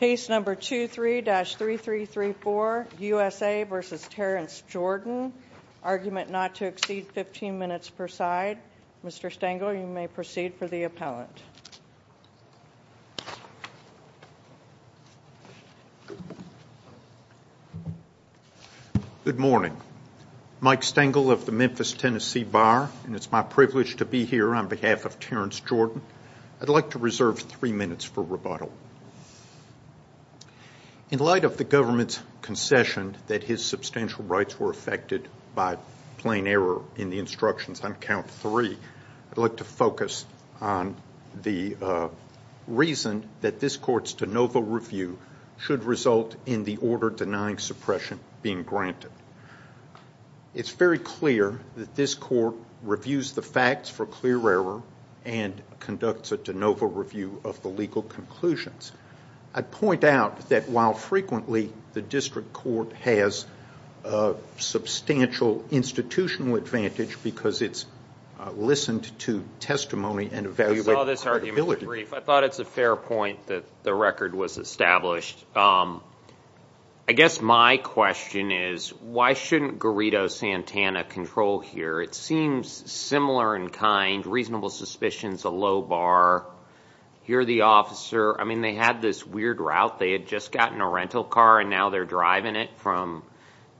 Case number 23-3334, USA v. Terrence Jordan. Argument not to exceed 15 minutes per side. Mr. Stengel, you may proceed for the appellant. Good morning. Mike Stengel of the Memphis, Tennessee Bar. It's my privilege to be here on behalf of Terrence Jordan. I'd like to reserve three minutes for rebuttal. In light of the government's concession that his substantial rights were affected by plain error in the instructions on count three, I'd like to focus on the reason that this court's de novo review should result in the order denying suppression being granted. It's very clear that this court reviews the facts for clear error and conducts a de novo review of the legal conclusions. I'd point out that while frequently the district court has a substantial institutional advantage because it's listened to testimony and evaluated. I saw this argument in brief. I thought it's a fair point that the record was established. I guess my question is, why shouldn't Garrido Santana control here? It seems similar in kind, reasonable suspicions, a low bar. Here the officer, I mean, they had this weird route. They had just gotten a rental car and now they're driving it from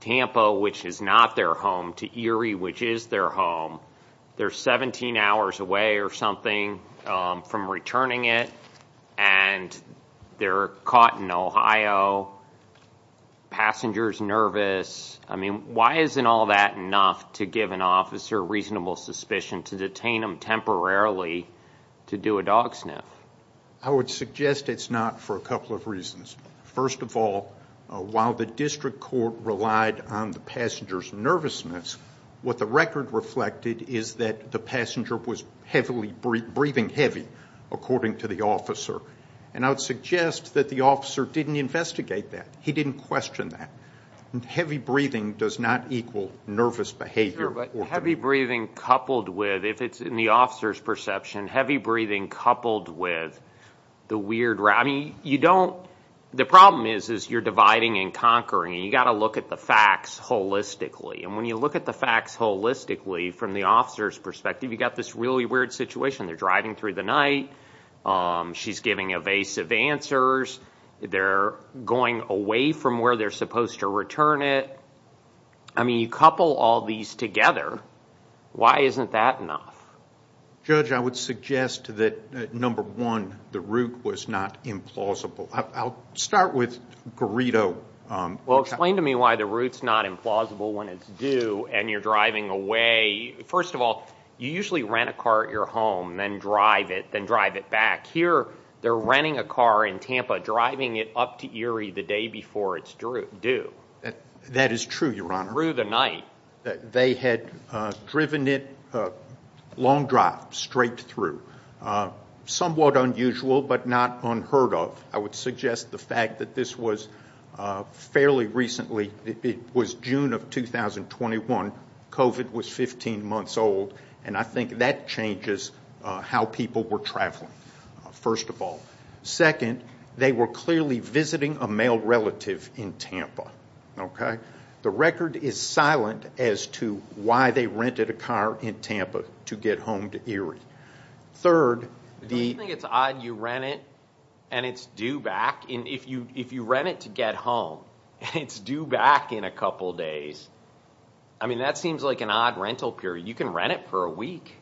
Tampa, which is not their home, to Erie, which is their home. They're 17 hours away or something from returning it and they're caught in Ohio, passenger's nervous. I mean, why isn't all that enough to give an officer reasonable suspicion to detain them temporarily to do a dog sniff? I would suggest it's not for a couple of reasons. First of all, while the district court relied on the passenger's nervousness, what the record reflected is that the passenger was breathing heavy, according to the officer. I would suggest that the officer didn't investigate that. He didn't question that. Heavy breathing does not equal nervous behavior. Sure, but heavy breathing coupled with, if it's in the officer's perception, heavy breathing coupled with the weird route. The problem is you're dividing and conquering. You've got to look at the facts holistically. When you look at the facts holistically from the officer's perspective, you've got this really weird situation. They're driving through the night. She's giving evasive answers. They're going away from where they're supposed to return it. I mean, you couple all these together. Why isn't that enough? Judge, I would suggest that, number one, the route was not implausible. I'll start with Garrido. Well, explain to me why the route's not implausible when it's due and you're driving away. First of all, you usually rent a car at your home, then drive it, then drive it back. Here, they're renting a car in Tampa, driving it up to Erie the day before it's due. That is true, Your Honor. Through the night. They had driven it long drive, straight through. Somewhat unusual, but not unheard of. I would suggest the fact that this was fairly recently. It was June of 2021. COVID was 15 months old, and I think that changes how people were traveling, first of all. Second, they were clearly visiting a male relative in Tampa. The record is silent as to why they rented a car in Tampa to get home to Erie. Third, the- Don't you think it's odd you rent it and it's due back? If you rent it to get home and it's due back in a couple days, I mean, that seems like an odd rental period. You can rent it for a week.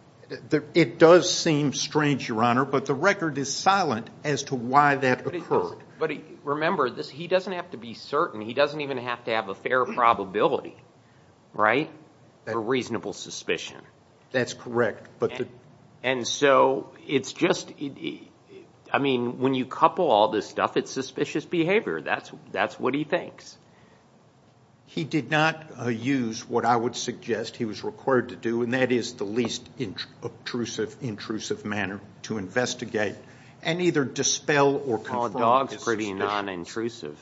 It does seem strange, Your Honor, but the record is silent as to why that occurred. But remember, he doesn't have to be certain. He doesn't even have to have a fair probability, right, for reasonable suspicion. That's correct. And so it's just, I mean, when you couple all this stuff, it's suspicious behavior. That's what he thinks. He did not use what I would suggest he was required to do, and that is the least intrusive manner to investigate and either dispel or confirm his suspicion. Well, a dog's pretty nonintrusive.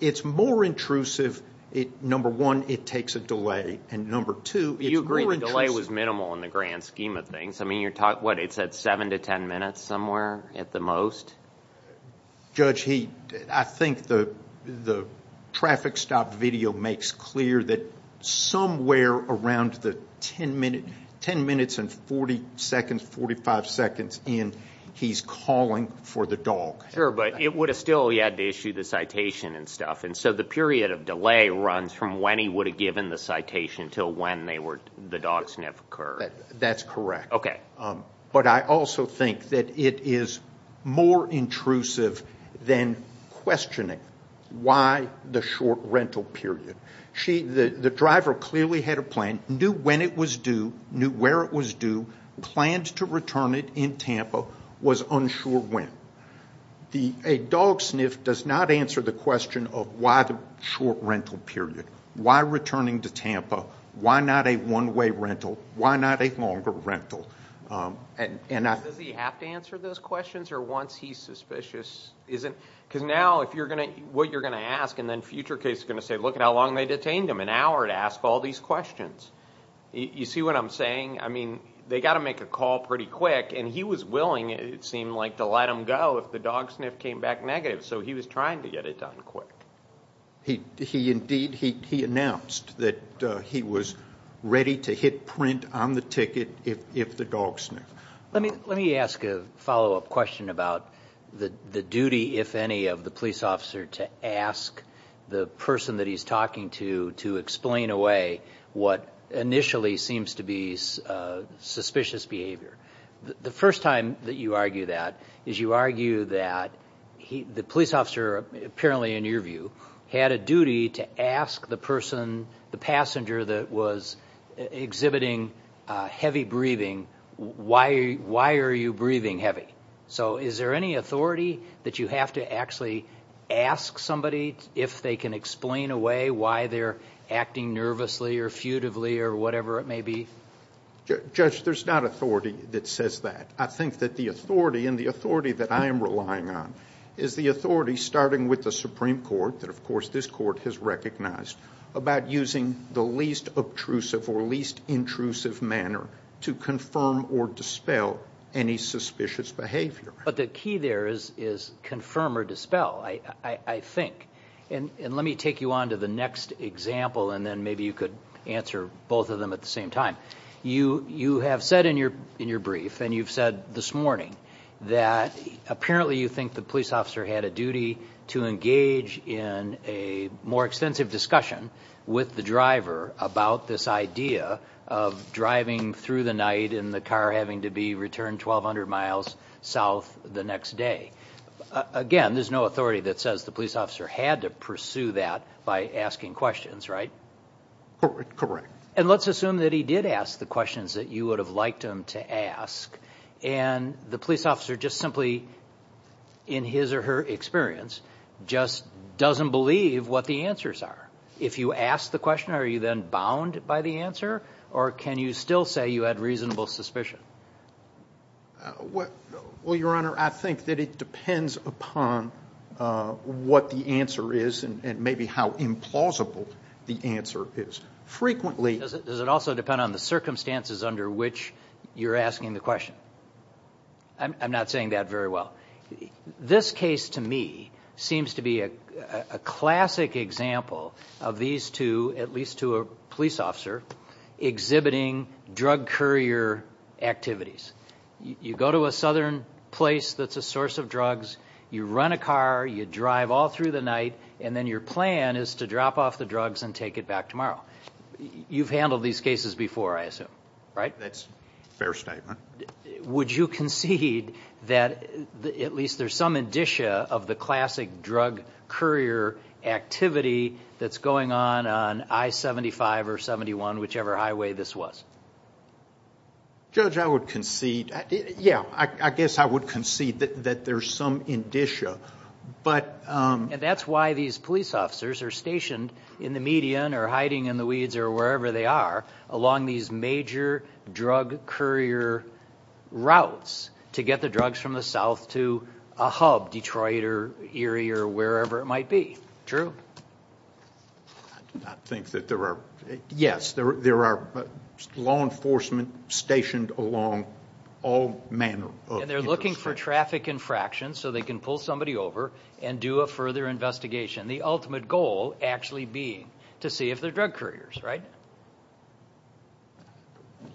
It's more intrusive, number one, it takes a delay, and number two, it's more intrusive. You agree the delay was minimal in the grand scheme of things. I mean, you're talking, what, it's at 7 to 10 minutes somewhere at the most? Judge, I think the traffic stop video makes clear that somewhere around the 10 minutes and 40 seconds, 45 seconds in, he's calling for the dog. Sure, but it would have still, he had to issue the citation and stuff, and so the period of delay runs from when he would have given the citation until when the dog sniff occurred. That's correct. Okay. But I also think that it is more intrusive than questioning why the short rental period. The driver clearly had a plan, knew when it was due, knew where it was due, planned to return it in Tampa, was unsure when. A dog sniff does not answer the question of why the short rental period, why returning to Tampa, why not a one-way rental, why not a longer rental. Does he have to answer those questions, or once he's suspicious, is it? Because now, what you're going to ask, and then future case is going to say, look at how long they detained him, an hour to ask all these questions. You see what I'm saying? I mean, they've got to make a call pretty quick, and he was willing, it seemed like, to let him go if the dog sniff came back negative, so he was trying to get it done quick. He, indeed, he announced that he was ready to hit print on the ticket if the dog sniffed. Let me ask a follow-up question about the duty, if any, of the police officer to ask the person that he's talking to to explain away what initially seems to be suspicious behavior. The first time that you argue that is you argue that the police officer, apparently in your view, had a duty to ask the person, the passenger that was exhibiting heavy breathing, why are you breathing heavy? So is there any authority that you have to actually ask somebody if they can explain away why they're acting nervously or futively or whatever it may be? Judge, there's not authority that says that. I think that the authority, and the authority that I am relying on, is the authority, starting with the Supreme Court, that of course this court has recognized, about using the least obtrusive or least intrusive manner to confirm or dispel any suspicious behavior. But the key there is confirm or dispel, I think. And let me take you on to the next example, and then maybe you could answer both of them at the same time. You have said in your brief, and you've said this morning, that apparently you think the police officer had a duty to engage in a more extensive discussion with the driver about this idea of driving through the night and the car having to be returned 1,200 miles south the next day. Again, there's no authority that says the police officer had to pursue that by asking questions, right? Correct. And let's assume that he did ask the questions that you would have liked him to ask, and the police officer just simply, in his or her experience, just doesn't believe what the answers are. If you ask the question, are you then bound by the answer, or can you still say you had reasonable suspicion? Well, Your Honor, I think that it depends upon what the answer is and maybe how implausible the answer is. Does it also depend on the circumstances under which you're asking the question? I'm not saying that very well. This case, to me, seems to be a classic example of these two, at least two police officers, exhibiting drug courier activities. You go to a southern place that's a source of drugs, you run a car, you drive all through the night, and then your plan is to drop off the drugs and take it back tomorrow. You've handled these cases before, I assume, right? That's a fair statement. Would you concede that at least there's some indicia of the classic drug courier activity that's going on on I-75 or 71, whichever highway this was? Judge, I would concede, yeah, I guess I would concede that there's some indicia. And that's why these police officers are stationed in the median or hiding in the weeds or wherever they are along these major drug courier routes to get the drugs from the south to a hub, Detroit or Erie or wherever it might be. I do not think that there are. Yes, there are law enforcement stationed along all manner of intersections. And they're looking for traffic infractions so they can pull somebody over and do a further investigation, the ultimate goal actually being to see if they're drug couriers, right?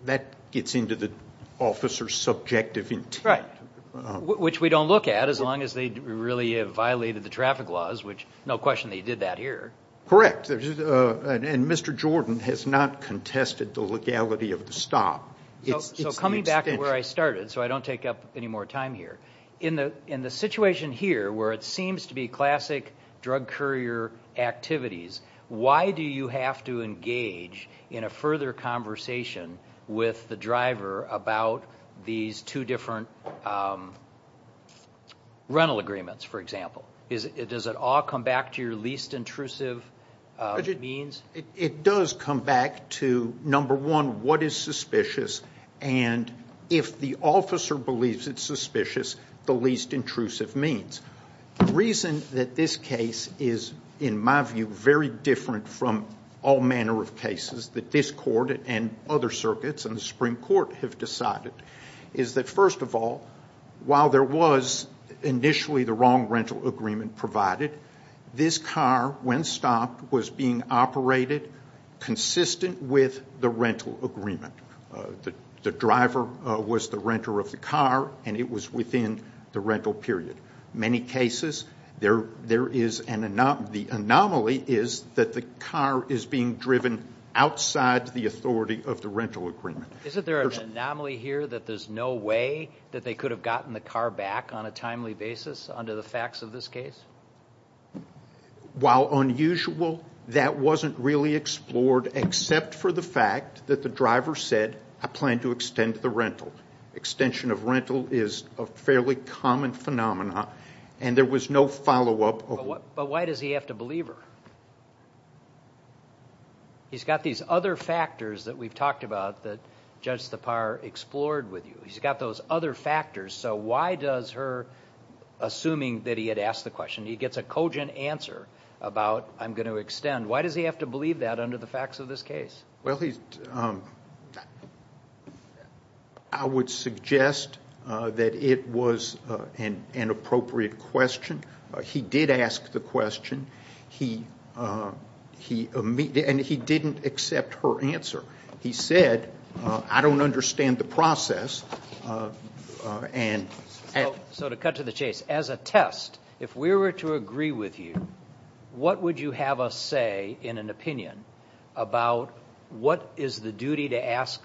That gets into the officer's subjective intent. Right, which we don't look at as long as they really have violated the traffic laws, which no question they did that here. Correct, and Mr. Jordan has not contested the legality of the stop. So coming back to where I started, so I don't take up any more time here, in the situation here where it seems to be classic drug courier activities, why do you have to engage in a further conversation with the driver about these two different rental agreements, for example? Does it all come back to your least intrusive means? It does come back to, number one, what is suspicious, and if the officer believes it's suspicious, the least intrusive means. The reason that this case is, in my view, very different from all manner of cases that this court and other circuits and the Supreme Court have decided, is that first of all, while there was initially the wrong rental agreement provided, this car, when stopped, was being operated consistent with the rental agreement. The driver was the renter of the car, and it was within the rental period. In many cases, the anomaly is that the car is being driven outside the authority of the rental agreement. Isn't there an anomaly here that there's no way that they could have gotten the car back on a timely basis, under the facts of this case? While unusual, that wasn't really explored except for the fact that the driver said, I plan to extend the rental. Extension of rental is a fairly common phenomenon, and there was no follow-up. But why does he have to believe her? He's got these other factors that we've talked about that Judge Tappar explored with you. He's got those other factors, so why does her, assuming that he had asked the question, he gets a cogent answer about, I'm going to extend. Why does he have to believe that under the facts of this case? Well, I would suggest that it was an inappropriate question. He did ask the question. He didn't accept her answer. He said, I don't understand the process. So to cut to the chase, as a test, if we were to agree with you, what would you have us say in an opinion about what is the duty to ask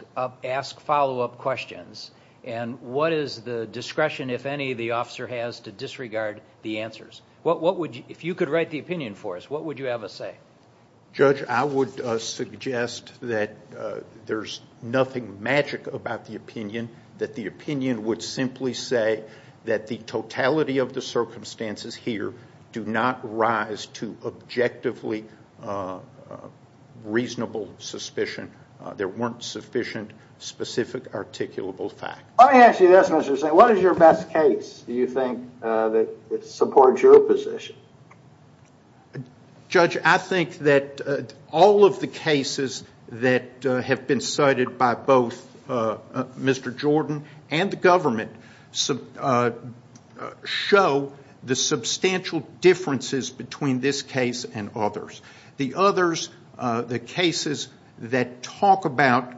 follow-up questions and what is the discretion, if any, the officer has to disregard the answers? If you could write the opinion for us, what would you have us say? Judge, I would suggest that there's nothing magic about the opinion, that the opinion would simply say that the totality of the circumstances here do not rise to objectively reasonable suspicion. There weren't sufficient, specific, articulable facts. Let me ask you this, Mr. Steyer. What is your best case, do you think, that supports your position? Judge, I think that all of the cases that have been cited by both Mr. Jordan and the government show the substantial differences between this case and others. The others, the cases that talk about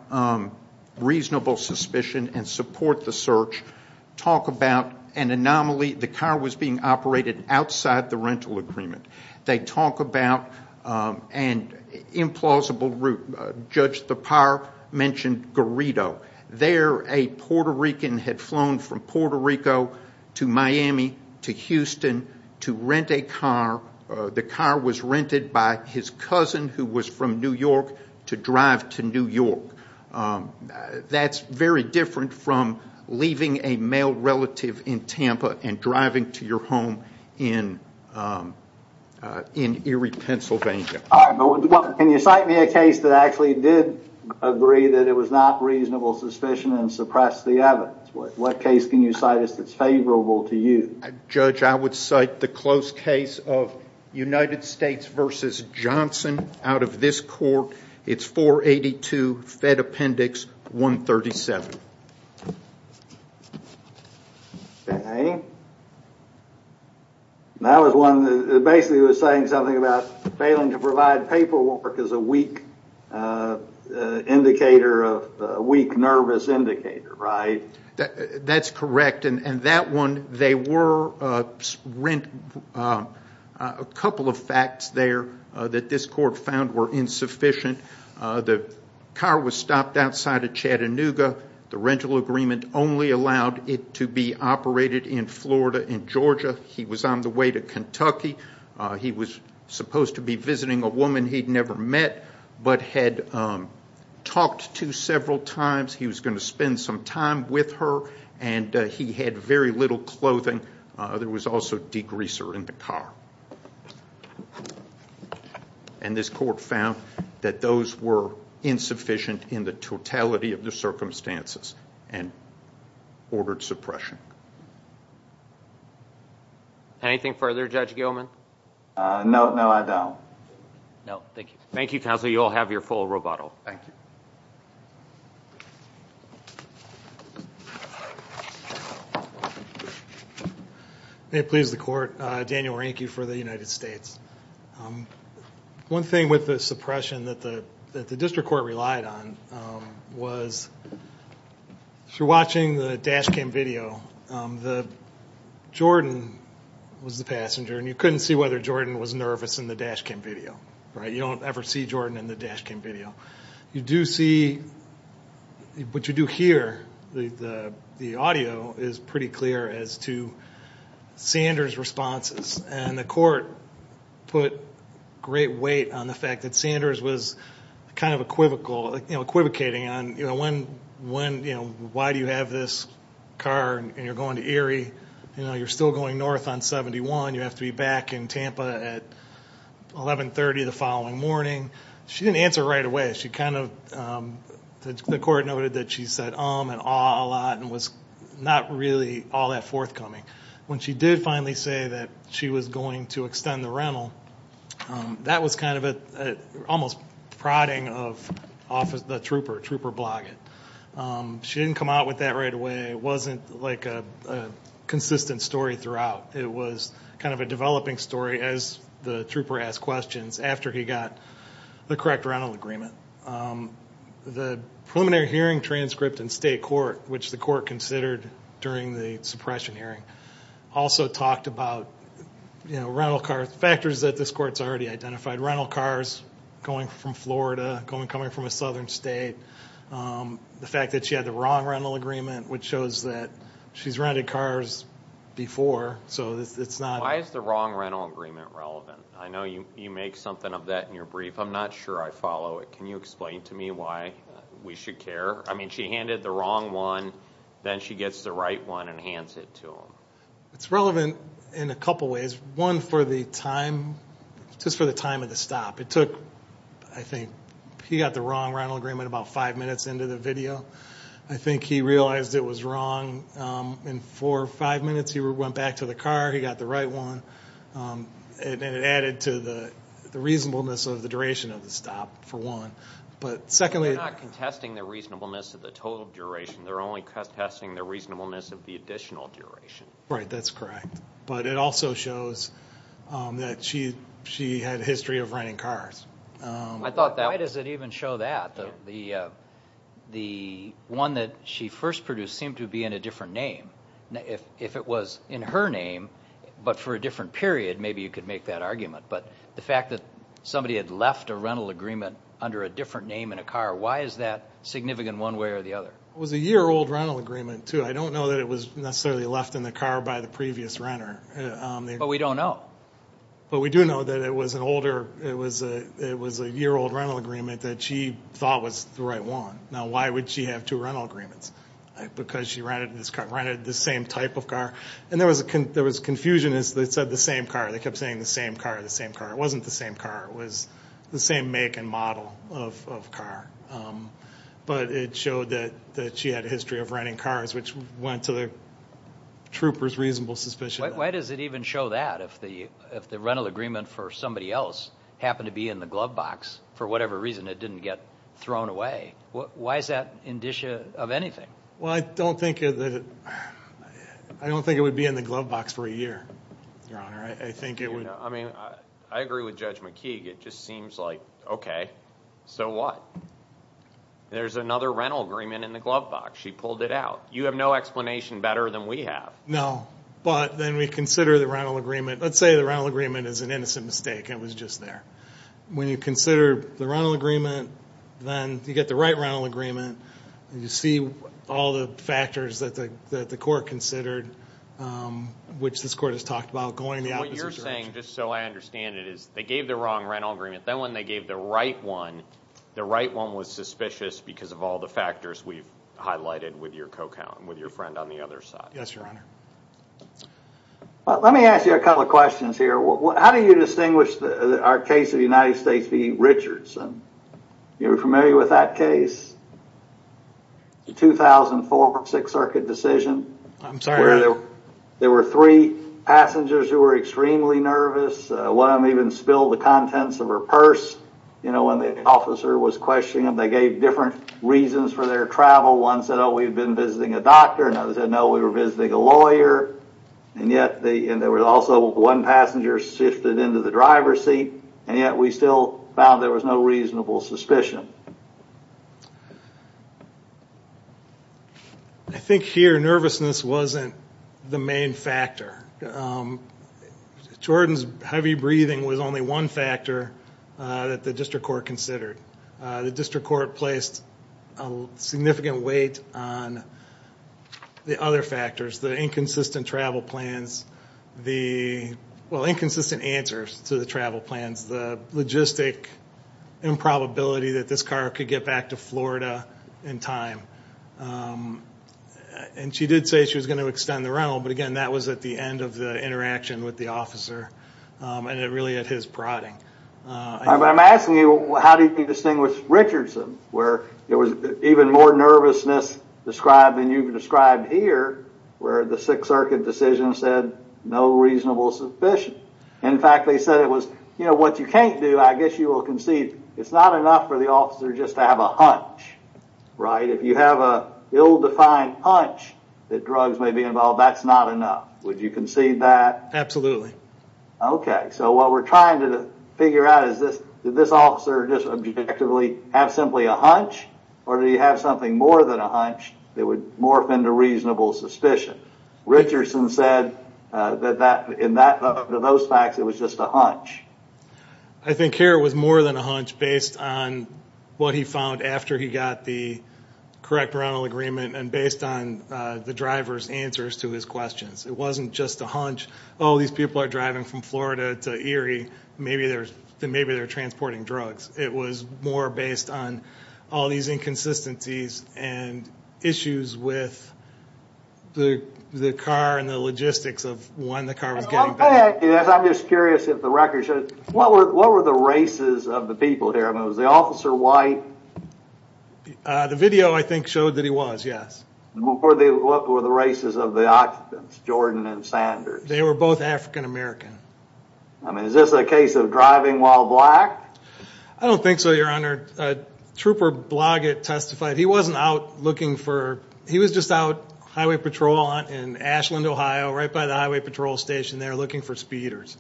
reasonable suspicion and support the search, talk about an anomaly, the car was being operated outside the rental agreement. They talk about an implausible route. Judge, the PAR mentioned Garrido. There, a Puerto Rican had flown from Puerto Rico to Miami, to Houston, to rent a car. The car was rented by his cousin, who was from New York, to drive to New York. That's very different from leaving a male relative in Tampa and driving to your home in Erie, Pennsylvania. Can you cite me a case that actually did agree that it was not reasonable suspicion and suppressed the evidence? What case can you cite us that's favorable to you? Judge, I would cite the close case of United States v. Johnson out of this court. It's 482 Fed Appendix 137. That was one that basically was saying something about failing to provide paperwork is a weak indicator, a weak, nervous indicator, right? That's correct. There were a couple of facts there that this court found were insufficient. The car was stopped outside of Chattanooga. The rental agreement only allowed it to be operated in Florida, in Georgia. He was on the way to Kentucky. He was supposed to be visiting a woman he'd never met but had talked to several times. He was going to spend some time with her, and he had very little clothing. There was also degreaser in the car. And this court found that those were insufficient in the totality of the circumstances and ordered suppression. Anything further, Judge Gilman? No, no, I don't. No, thank you. Thank you, Counsel. You all have your full rebuttal. Thank you. May it please the Court, Daniel Reinke for the United States. One thing with the suppression that the district court relied on was, if you're watching the dash cam video, Jordan was the passenger, and you couldn't see whether Jordan was nervous in the dash cam video, right? You don't ever see Jordan in the dash cam video. You do see what you do hear, the audio, is pretty clear as to Sanders' responses. And the court put great weight on the fact that Sanders was kind of equivocating on, you know, why do you have this car and you're going to Erie? You know, you're still going north on 71. You have to be back in Tampa at 1130 the following morning. She didn't answer right away. She kind of, the court noted that she said um and ah a lot and was not really all that forthcoming. When she did finally say that she was going to extend the rental, that was kind of an almost prodding of the trooper, trooper blogging. She didn't come out with that right away. It wasn't like a consistent story throughout. It was kind of a developing story as the trooper asked questions after he got the correct rental agreement. The preliminary hearing transcript in state court, which the court considered during the suppression hearing, also talked about, you know, rental car factors that this court's already identified. Rental cars going from Florida, coming from a southern state. The fact that she had the wrong rental agreement, which shows that she's rented cars before, so it's not. Why is the wrong rental agreement relevant? I know you make something of that in your brief. I'm not sure I follow it. Can you explain to me why we should care? I mean she handed the wrong one, then she gets the right one and hands it to him. It's relevant in a couple ways. One, for the time, just for the time of the stop. It took, I think, he got the wrong rental agreement about five minutes into the video. I think he realized it was wrong. In four or five minutes he went back to the car, he got the right one, and it added to the reasonableness of the duration of the stop, for one. But secondly. We're not contesting the reasonableness of the total duration. They're only contesting the reasonableness of the additional duration. Right, that's correct. But it also shows that she had a history of renting cars. Why does it even show that? The one that she first produced seemed to be in a different name. If it was in her name, but for a different period, maybe you could make that argument. But the fact that somebody had left a rental agreement under a different name in a car, why is that significant one way or the other? It was a year-old rental agreement, too. I don't know that it was necessarily left in the car by the previous renter. But we don't know. But we do know that it was a year-old rental agreement that she thought was the right one. Now, why would she have two rental agreements? Because she rented this car, rented the same type of car. And there was confusion as they said the same car. They kept saying the same car, the same car. It wasn't the same car. It was the same make and model of car. But it showed that she had a history of renting cars, which went to the trooper's reasonable suspicion. Why does it even show that if the rental agreement for somebody else happened to be in the glove box for whatever reason it didn't get thrown away? Why is that indicia of anything? Well, I don't think it would be in the glove box for a year, Your Honor. I agree with Judge McKeague. It just seems like, okay, so what? There's another rental agreement in the glove box. She pulled it out. You have no explanation better than we have. No. But then we consider the rental agreement. Let's say the rental agreement is an innocent mistake. It was just there. When you consider the rental agreement, then you get the right rental agreement, and you see all the factors that the court considered, which this court has talked about going the opposite direction. What you're saying, just so I understand it, is they gave the wrong rental agreement. Then when they gave the right one, the right one was suspicious because of all the factors we've highlighted with your co-count and with your friend on the other side. Yes, Your Honor. Let me ask you a couple of questions here. How do you distinguish our case of the United States v. Richardson? You're familiar with that case? The 2004 Sixth Circuit decision. I'm sorry. There were three passengers who were extremely nervous. One of them even spilled the contents of her purse when the officer was questioning them. They gave different reasons for their travel. One said, oh, we've been visiting a doctor, and the other said, no, we were visiting a lawyer. Yet there was also one passenger shifted into the driver's seat, and yet we still found there was no reasonable suspicion. I think here nervousness wasn't the main factor. Jordan's heavy breathing was only one factor that the district court considered. The district court placed a significant weight on the other factors, the inconsistent travel plans, the inconsistent answers to the travel plans, the logistic improbability that this car could get back to Florida in time. She did say she was going to extend the rental, but, again, that was at the end of the interaction with the officer and really at his prodding. I'm asking you, how do you distinguish Richardson, where there was even more nervousness described than you've described here, where the Sixth Circuit decision said no reasonable suspicion? In fact, they said it was, you know, what you can't do, I guess you will concede, it's not enough for the officer just to have a hunch, right? If you have an ill-defined hunch that drugs may be involved, that's not enough. Would you concede that? Absolutely. Okay. So what we're trying to figure out is this, did this officer just objectively have simply a hunch or did he have something more than a hunch that would morph into reasonable suspicion? Richardson said that in those facts it was just a hunch. I think here it was more than a hunch based on what he found after he got the correct rental agreement and based on the driver's answers to his questions. It wasn't just a hunch. Oh, these people are driving from Florida to Erie, maybe they're transporting drugs. It was more based on all these inconsistencies and issues with the car and the logistics of when the car was getting back. I'm just curious if the record shows, what were the races of the people here? I mean, was the officer white? The video, I think, showed that he was, yes. What were the races of the occupants, Jordan and Sanders? They were both African American. I mean, is this a case of driving while black? I don't think so, Your Honor. Trooper Bloggett testified he wasn't out looking for, he was just out highway patrol in Ashland, Ohio, right by the highway patrol station there looking for speeders.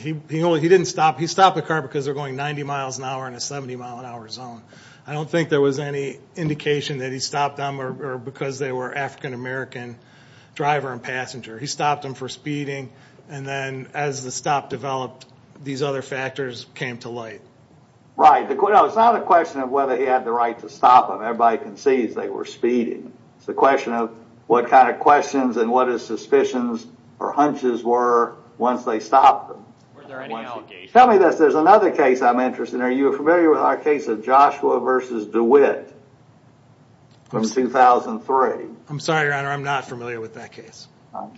He didn't stop. He stopped the car because they were going 90 miles an hour in a 70 mile an hour zone. I don't think there was any indication that he stopped them because they were African American driver and passenger. He stopped them for speeding, and then as the stop developed, these other factors came to light. Right. It's not a question of whether he had the right to stop them. Everybody concedes they were speeding. It's a question of what kind of questions and what his suspicions or hunches were once they stopped them. Were there any allegations? Tell me this. There's another case I'm interested in. Your Honor, are you familiar with our case of Joshua v. DeWitt from 2003? I'm sorry, Your Honor. I'm not familiar with that case.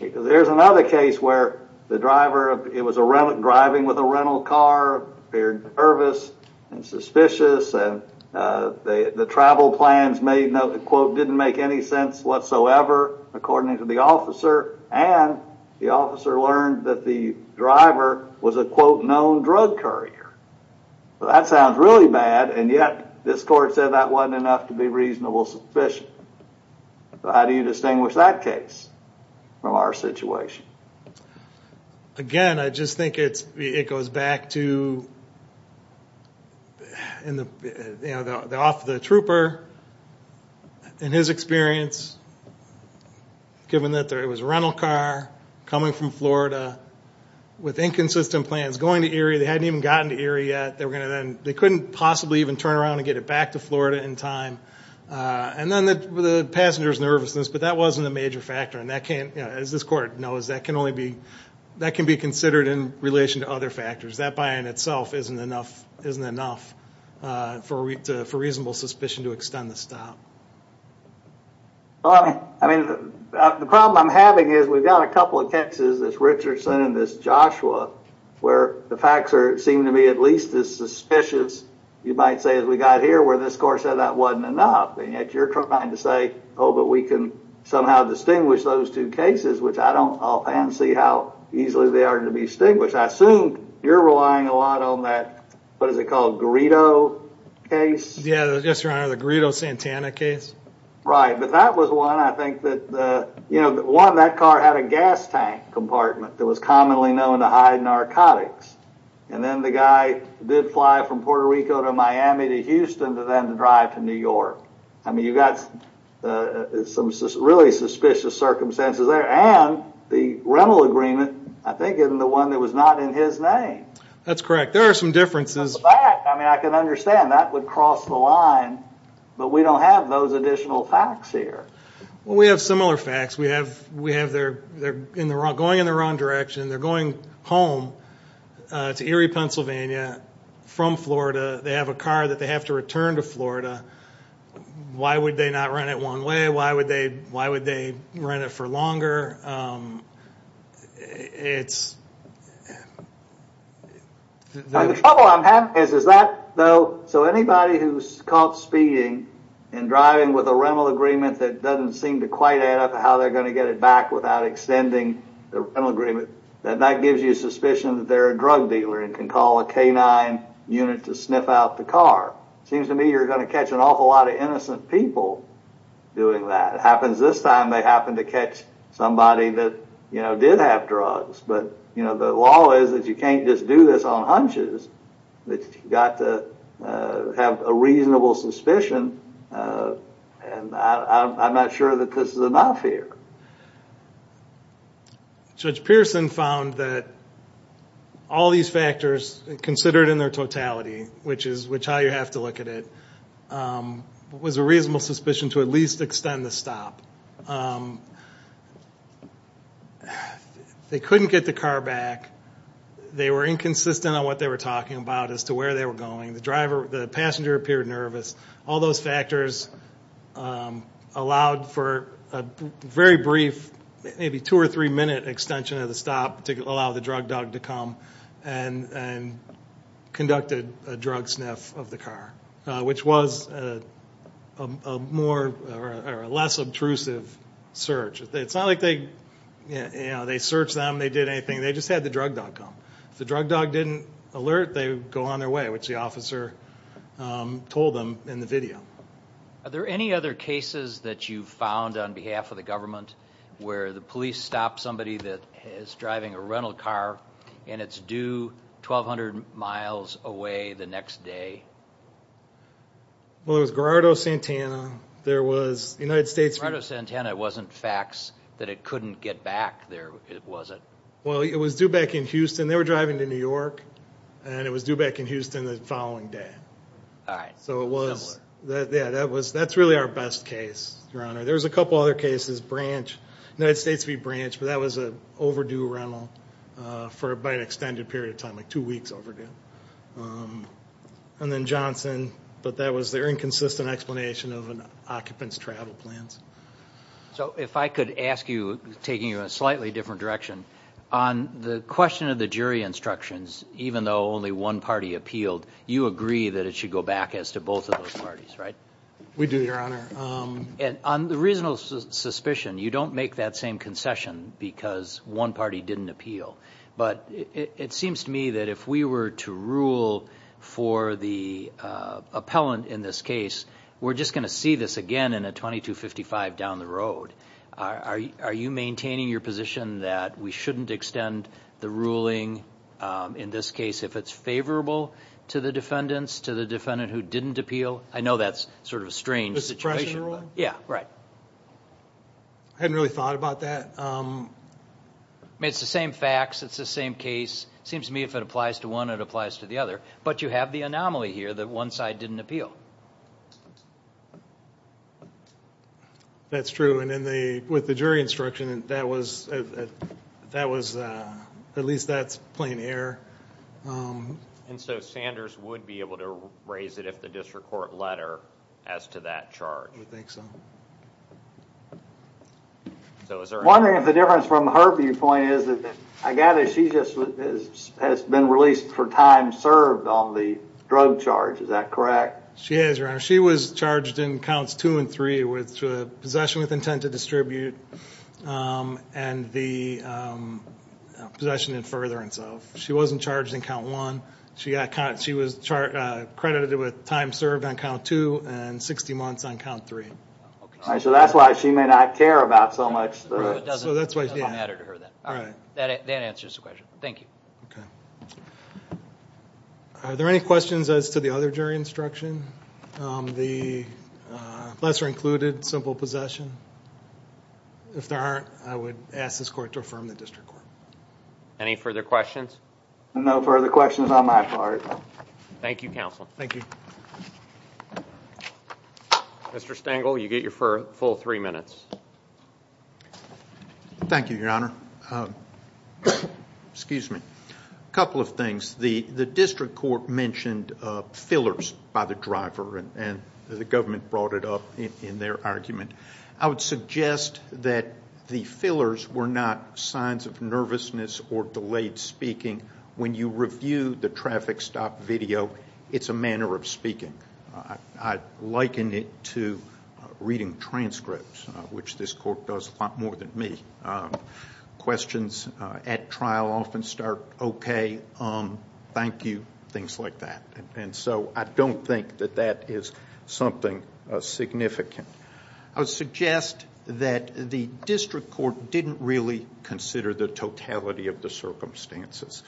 There's another case where the driver was driving with a rental car, appeared nervous and suspicious. The travel plans didn't make any sense whatsoever, according to the officer, and the officer learned that the driver was a quote, known drug courier. That sounds really bad, and yet this court said that wasn't enough to be reasonable sufficient. How do you distinguish that case from our situation? Again, I just think it goes back to the off the trooper and his experience, given that it was a rental car coming from Florida with inconsistent plans, going to Erie. They hadn't even gotten to Erie yet. They couldn't possibly even turn around and get it back to Florida in time. And then the passenger's nervousness, but that wasn't a major factor, and that can't, as this court knows, that can be considered in relation to other factors. That by in itself isn't enough for reasonable suspicion to extend the stop. The problem I'm having is we've got a couple of cases, this Richardson and this Joshua, where the facts seem to be at least as suspicious, you might say, as we got here, where this court said that wasn't enough, and yet you're trying to say, oh, but we can somehow distinguish those two cases, which I don't see how easily they are to distinguish. I assume you're relying a lot on that, what is it called, Greedo case? Yes, Your Honor, the Greedo-Santana case. Right, but that was one I think that, one, that car had a gas tank compartment that was commonly known to hide narcotics, and then the guy did fly from Puerto Rico to Miami to Houston to then drive to New York. I mean, you've got some really suspicious circumstances there, and the rental agreement, I think, isn't the one that was not in his name. That's correct. There are some differences. I mean, I can understand that would cross the line, but we don't have those additional facts here. Well, we have similar facts. We have they're going in the wrong direction. They're going home to Erie, Pennsylvania, from Florida. They have a car that they have to return to Florida. Why would they not rent it one way? Why would they rent it for longer? It's... The trouble I'm having is that, though, so anybody who's caught speeding and driving with a rental agreement that doesn't seem to quite add up how they're going to get it back without extending the rental agreement, that gives you a suspicion that they're a drug dealer and can call a K-9 unit to sniff out the car. Seems to me you're going to catch an awful lot of innocent people doing that. If that happens this time, they happen to catch somebody that did have drugs. But the law is that you can't just do this on hunches. You've got to have a reasonable suspicion, and I'm not sure that this is enough here. Judge Pearson found that all these factors, considered in their totality, which is how you have to look at it, was a reasonable suspicion to at least extend the stop. They couldn't get the car back. They were inconsistent on what they were talking about as to where they were going. The passenger appeared nervous. All those factors allowed for a very brief, maybe two- or three-minute extension of the stop to allow the drug dog to come and conducted a drug sniff of the car, which was a less obtrusive search. It's not like they searched them, they did anything. They just had the drug dog come. If the drug dog didn't alert, they would go on their way, which the officer told them in the video. Are there any other cases that you've found on behalf of the government where the police stop somebody that is driving a rental car and it's due 1,200 miles away the next day? Well, it was Gerardo Santana. Gerardo Santana wasn't faxed that it couldn't get back, was it? Well, it was due back in Houston. They were driving to New York, and it was due back in Houston the following day. All right. That's really our best case, Your Honor. There's a couple other cases, United States v. Branch, but that was an overdue rental by an extended period of time, like two weeks overdue. And then Johnson, but that was their inconsistent explanation of an occupant's travel plans. So if I could ask you, taking you in a slightly different direction, on the question of the jury instructions, even though only one party appealed, you agree that it should go back as to both of those parties, right? We do, Your Honor. And on the reasonable suspicion, you don't make that same concession because one party didn't appeal. But it seems to me that if we were to rule for the appellant in this case, we're just going to see this again in a 2255 down the road. Are you maintaining your position that we shouldn't extend the ruling, in this case, if it's favorable to the defendants, to the defendant who didn't appeal? I know that's sort of a strange situation. Yeah, right. I hadn't really thought about that. I mean, it's the same facts. It's the same case. It seems to me if it applies to one, it applies to the other. But you have the anomaly here that one side didn't appeal. That's true. And with the jury instruction, at least that's plain error. And so Sanders would be able to raise it with the district court letter as to that charge. I think so. I'm wondering if the difference from her viewpoint is that she has been released for time served on the drug charge. Is that correct? She is, Your Honor. She was charged in Counts 2 and 3 with possession with intent to distribute and the possession in furtherance of. She wasn't charged in Count 1. She was credited with time served on Count 2 and 60 months on Count 3. So that's why she may not care about so much. It doesn't matter to her then. All right. That answers the question. Thank you. OK. Are there any questions as to the other jury instruction? The lesser included, simple possession? If there aren't, I would ask this court to affirm the district court. Any further questions? No further questions on my part. Thank you, Counsel. Thank you. Mr. Stengel, you get your full three minutes. Thank you, Your Honor. Excuse me. A couple of things. The district court mentioned fillers by the driver and the government brought it up in their argument. I would suggest that the fillers were not signs of nervousness or delayed speaking when you review the traffic stop video. It's a manner of speaking. I liken it to reading transcripts, which this court does a lot more than me. Questions at trial often start, OK, thank you, things like that. And so I don't think that that is something significant. I would suggest that the district court didn't really consider the totality of the circumstances.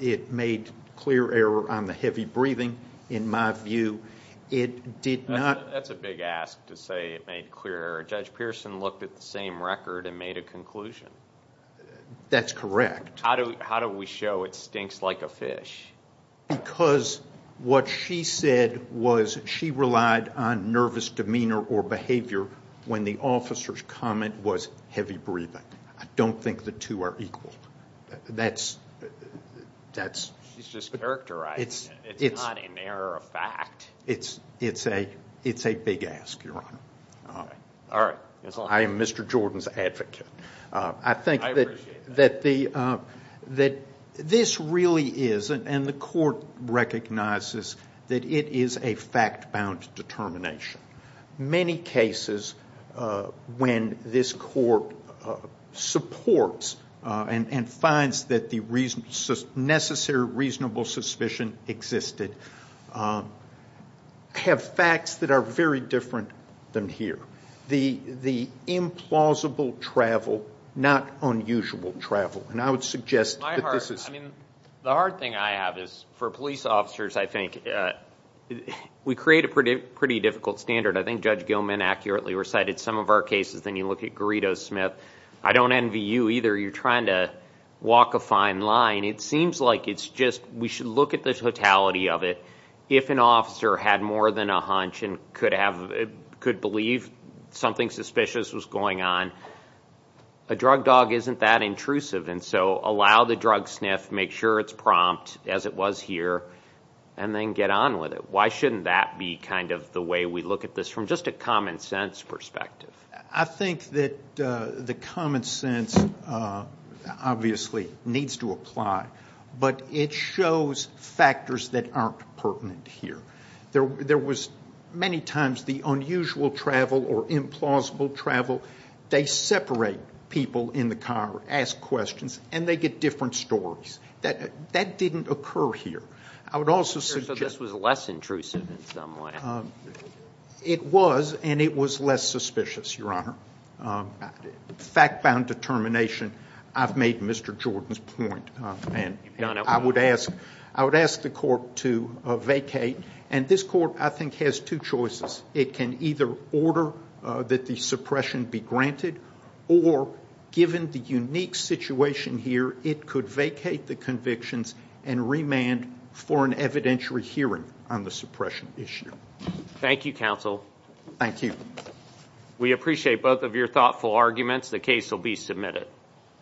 It made clear error on the heavy breathing, in my view. It did not... That's a big ask to say it made clear error. Judge Pearson looked at the same record and made a conclusion. That's correct. How do we show it stinks like a fish? Because what she said was she relied on nervous demeanor or behavior when the officer's comment was heavy breathing. I don't think the two are equal. That's... She's just characterizing it. It's not an error of fact. It's a big ask, Your Honor. All right. I am Mr. Jordan's advocate. I appreciate that. This really is, and the court recognizes, that it is a fact-bound determination. Many cases when this court supports and finds that the necessary reasonable suspicion existed have facts that are very different than here. The implausible travel, not unusual travel. I would suggest that this is... The hard thing I have is, for police officers, I think... We create a pretty difficult standard. I think Judge Gilman accurately recited some of our cases. Then you look at Garrido Smith. I don't envy you either. You're trying to walk a fine line. It seems like we should look at the totality of it. If an officer had more than a hunch and could believe something suspicious was going on, a drug dog isn't that intrusive. So allow the drug sniff, make sure it's prompt, as it was here, and then get on with it. Why shouldn't that be the way we look at this from just a common-sense perspective? I think that the common sense obviously needs to apply. But it shows factors that aren't pertinent here. There was many times the unusual travel or implausible travel. They separate people in the car, ask questions, and they get different stories. That didn't occur here. I would also suggest... So this was less intrusive in some way. It was, and it was less suspicious, Your Honor. Fact-bound determination. I've made Mr. Jordan's point. I would ask the court to vacate. And this court, I think, has two choices. It can either order that the suppression be granted or, given the unique situation here, it could vacate the convictions and remand for an evidentiary hearing on the suppression issue. Thank you, counsel. Thank you. We appreciate both of your thoughtful arguments. The case will be submitted.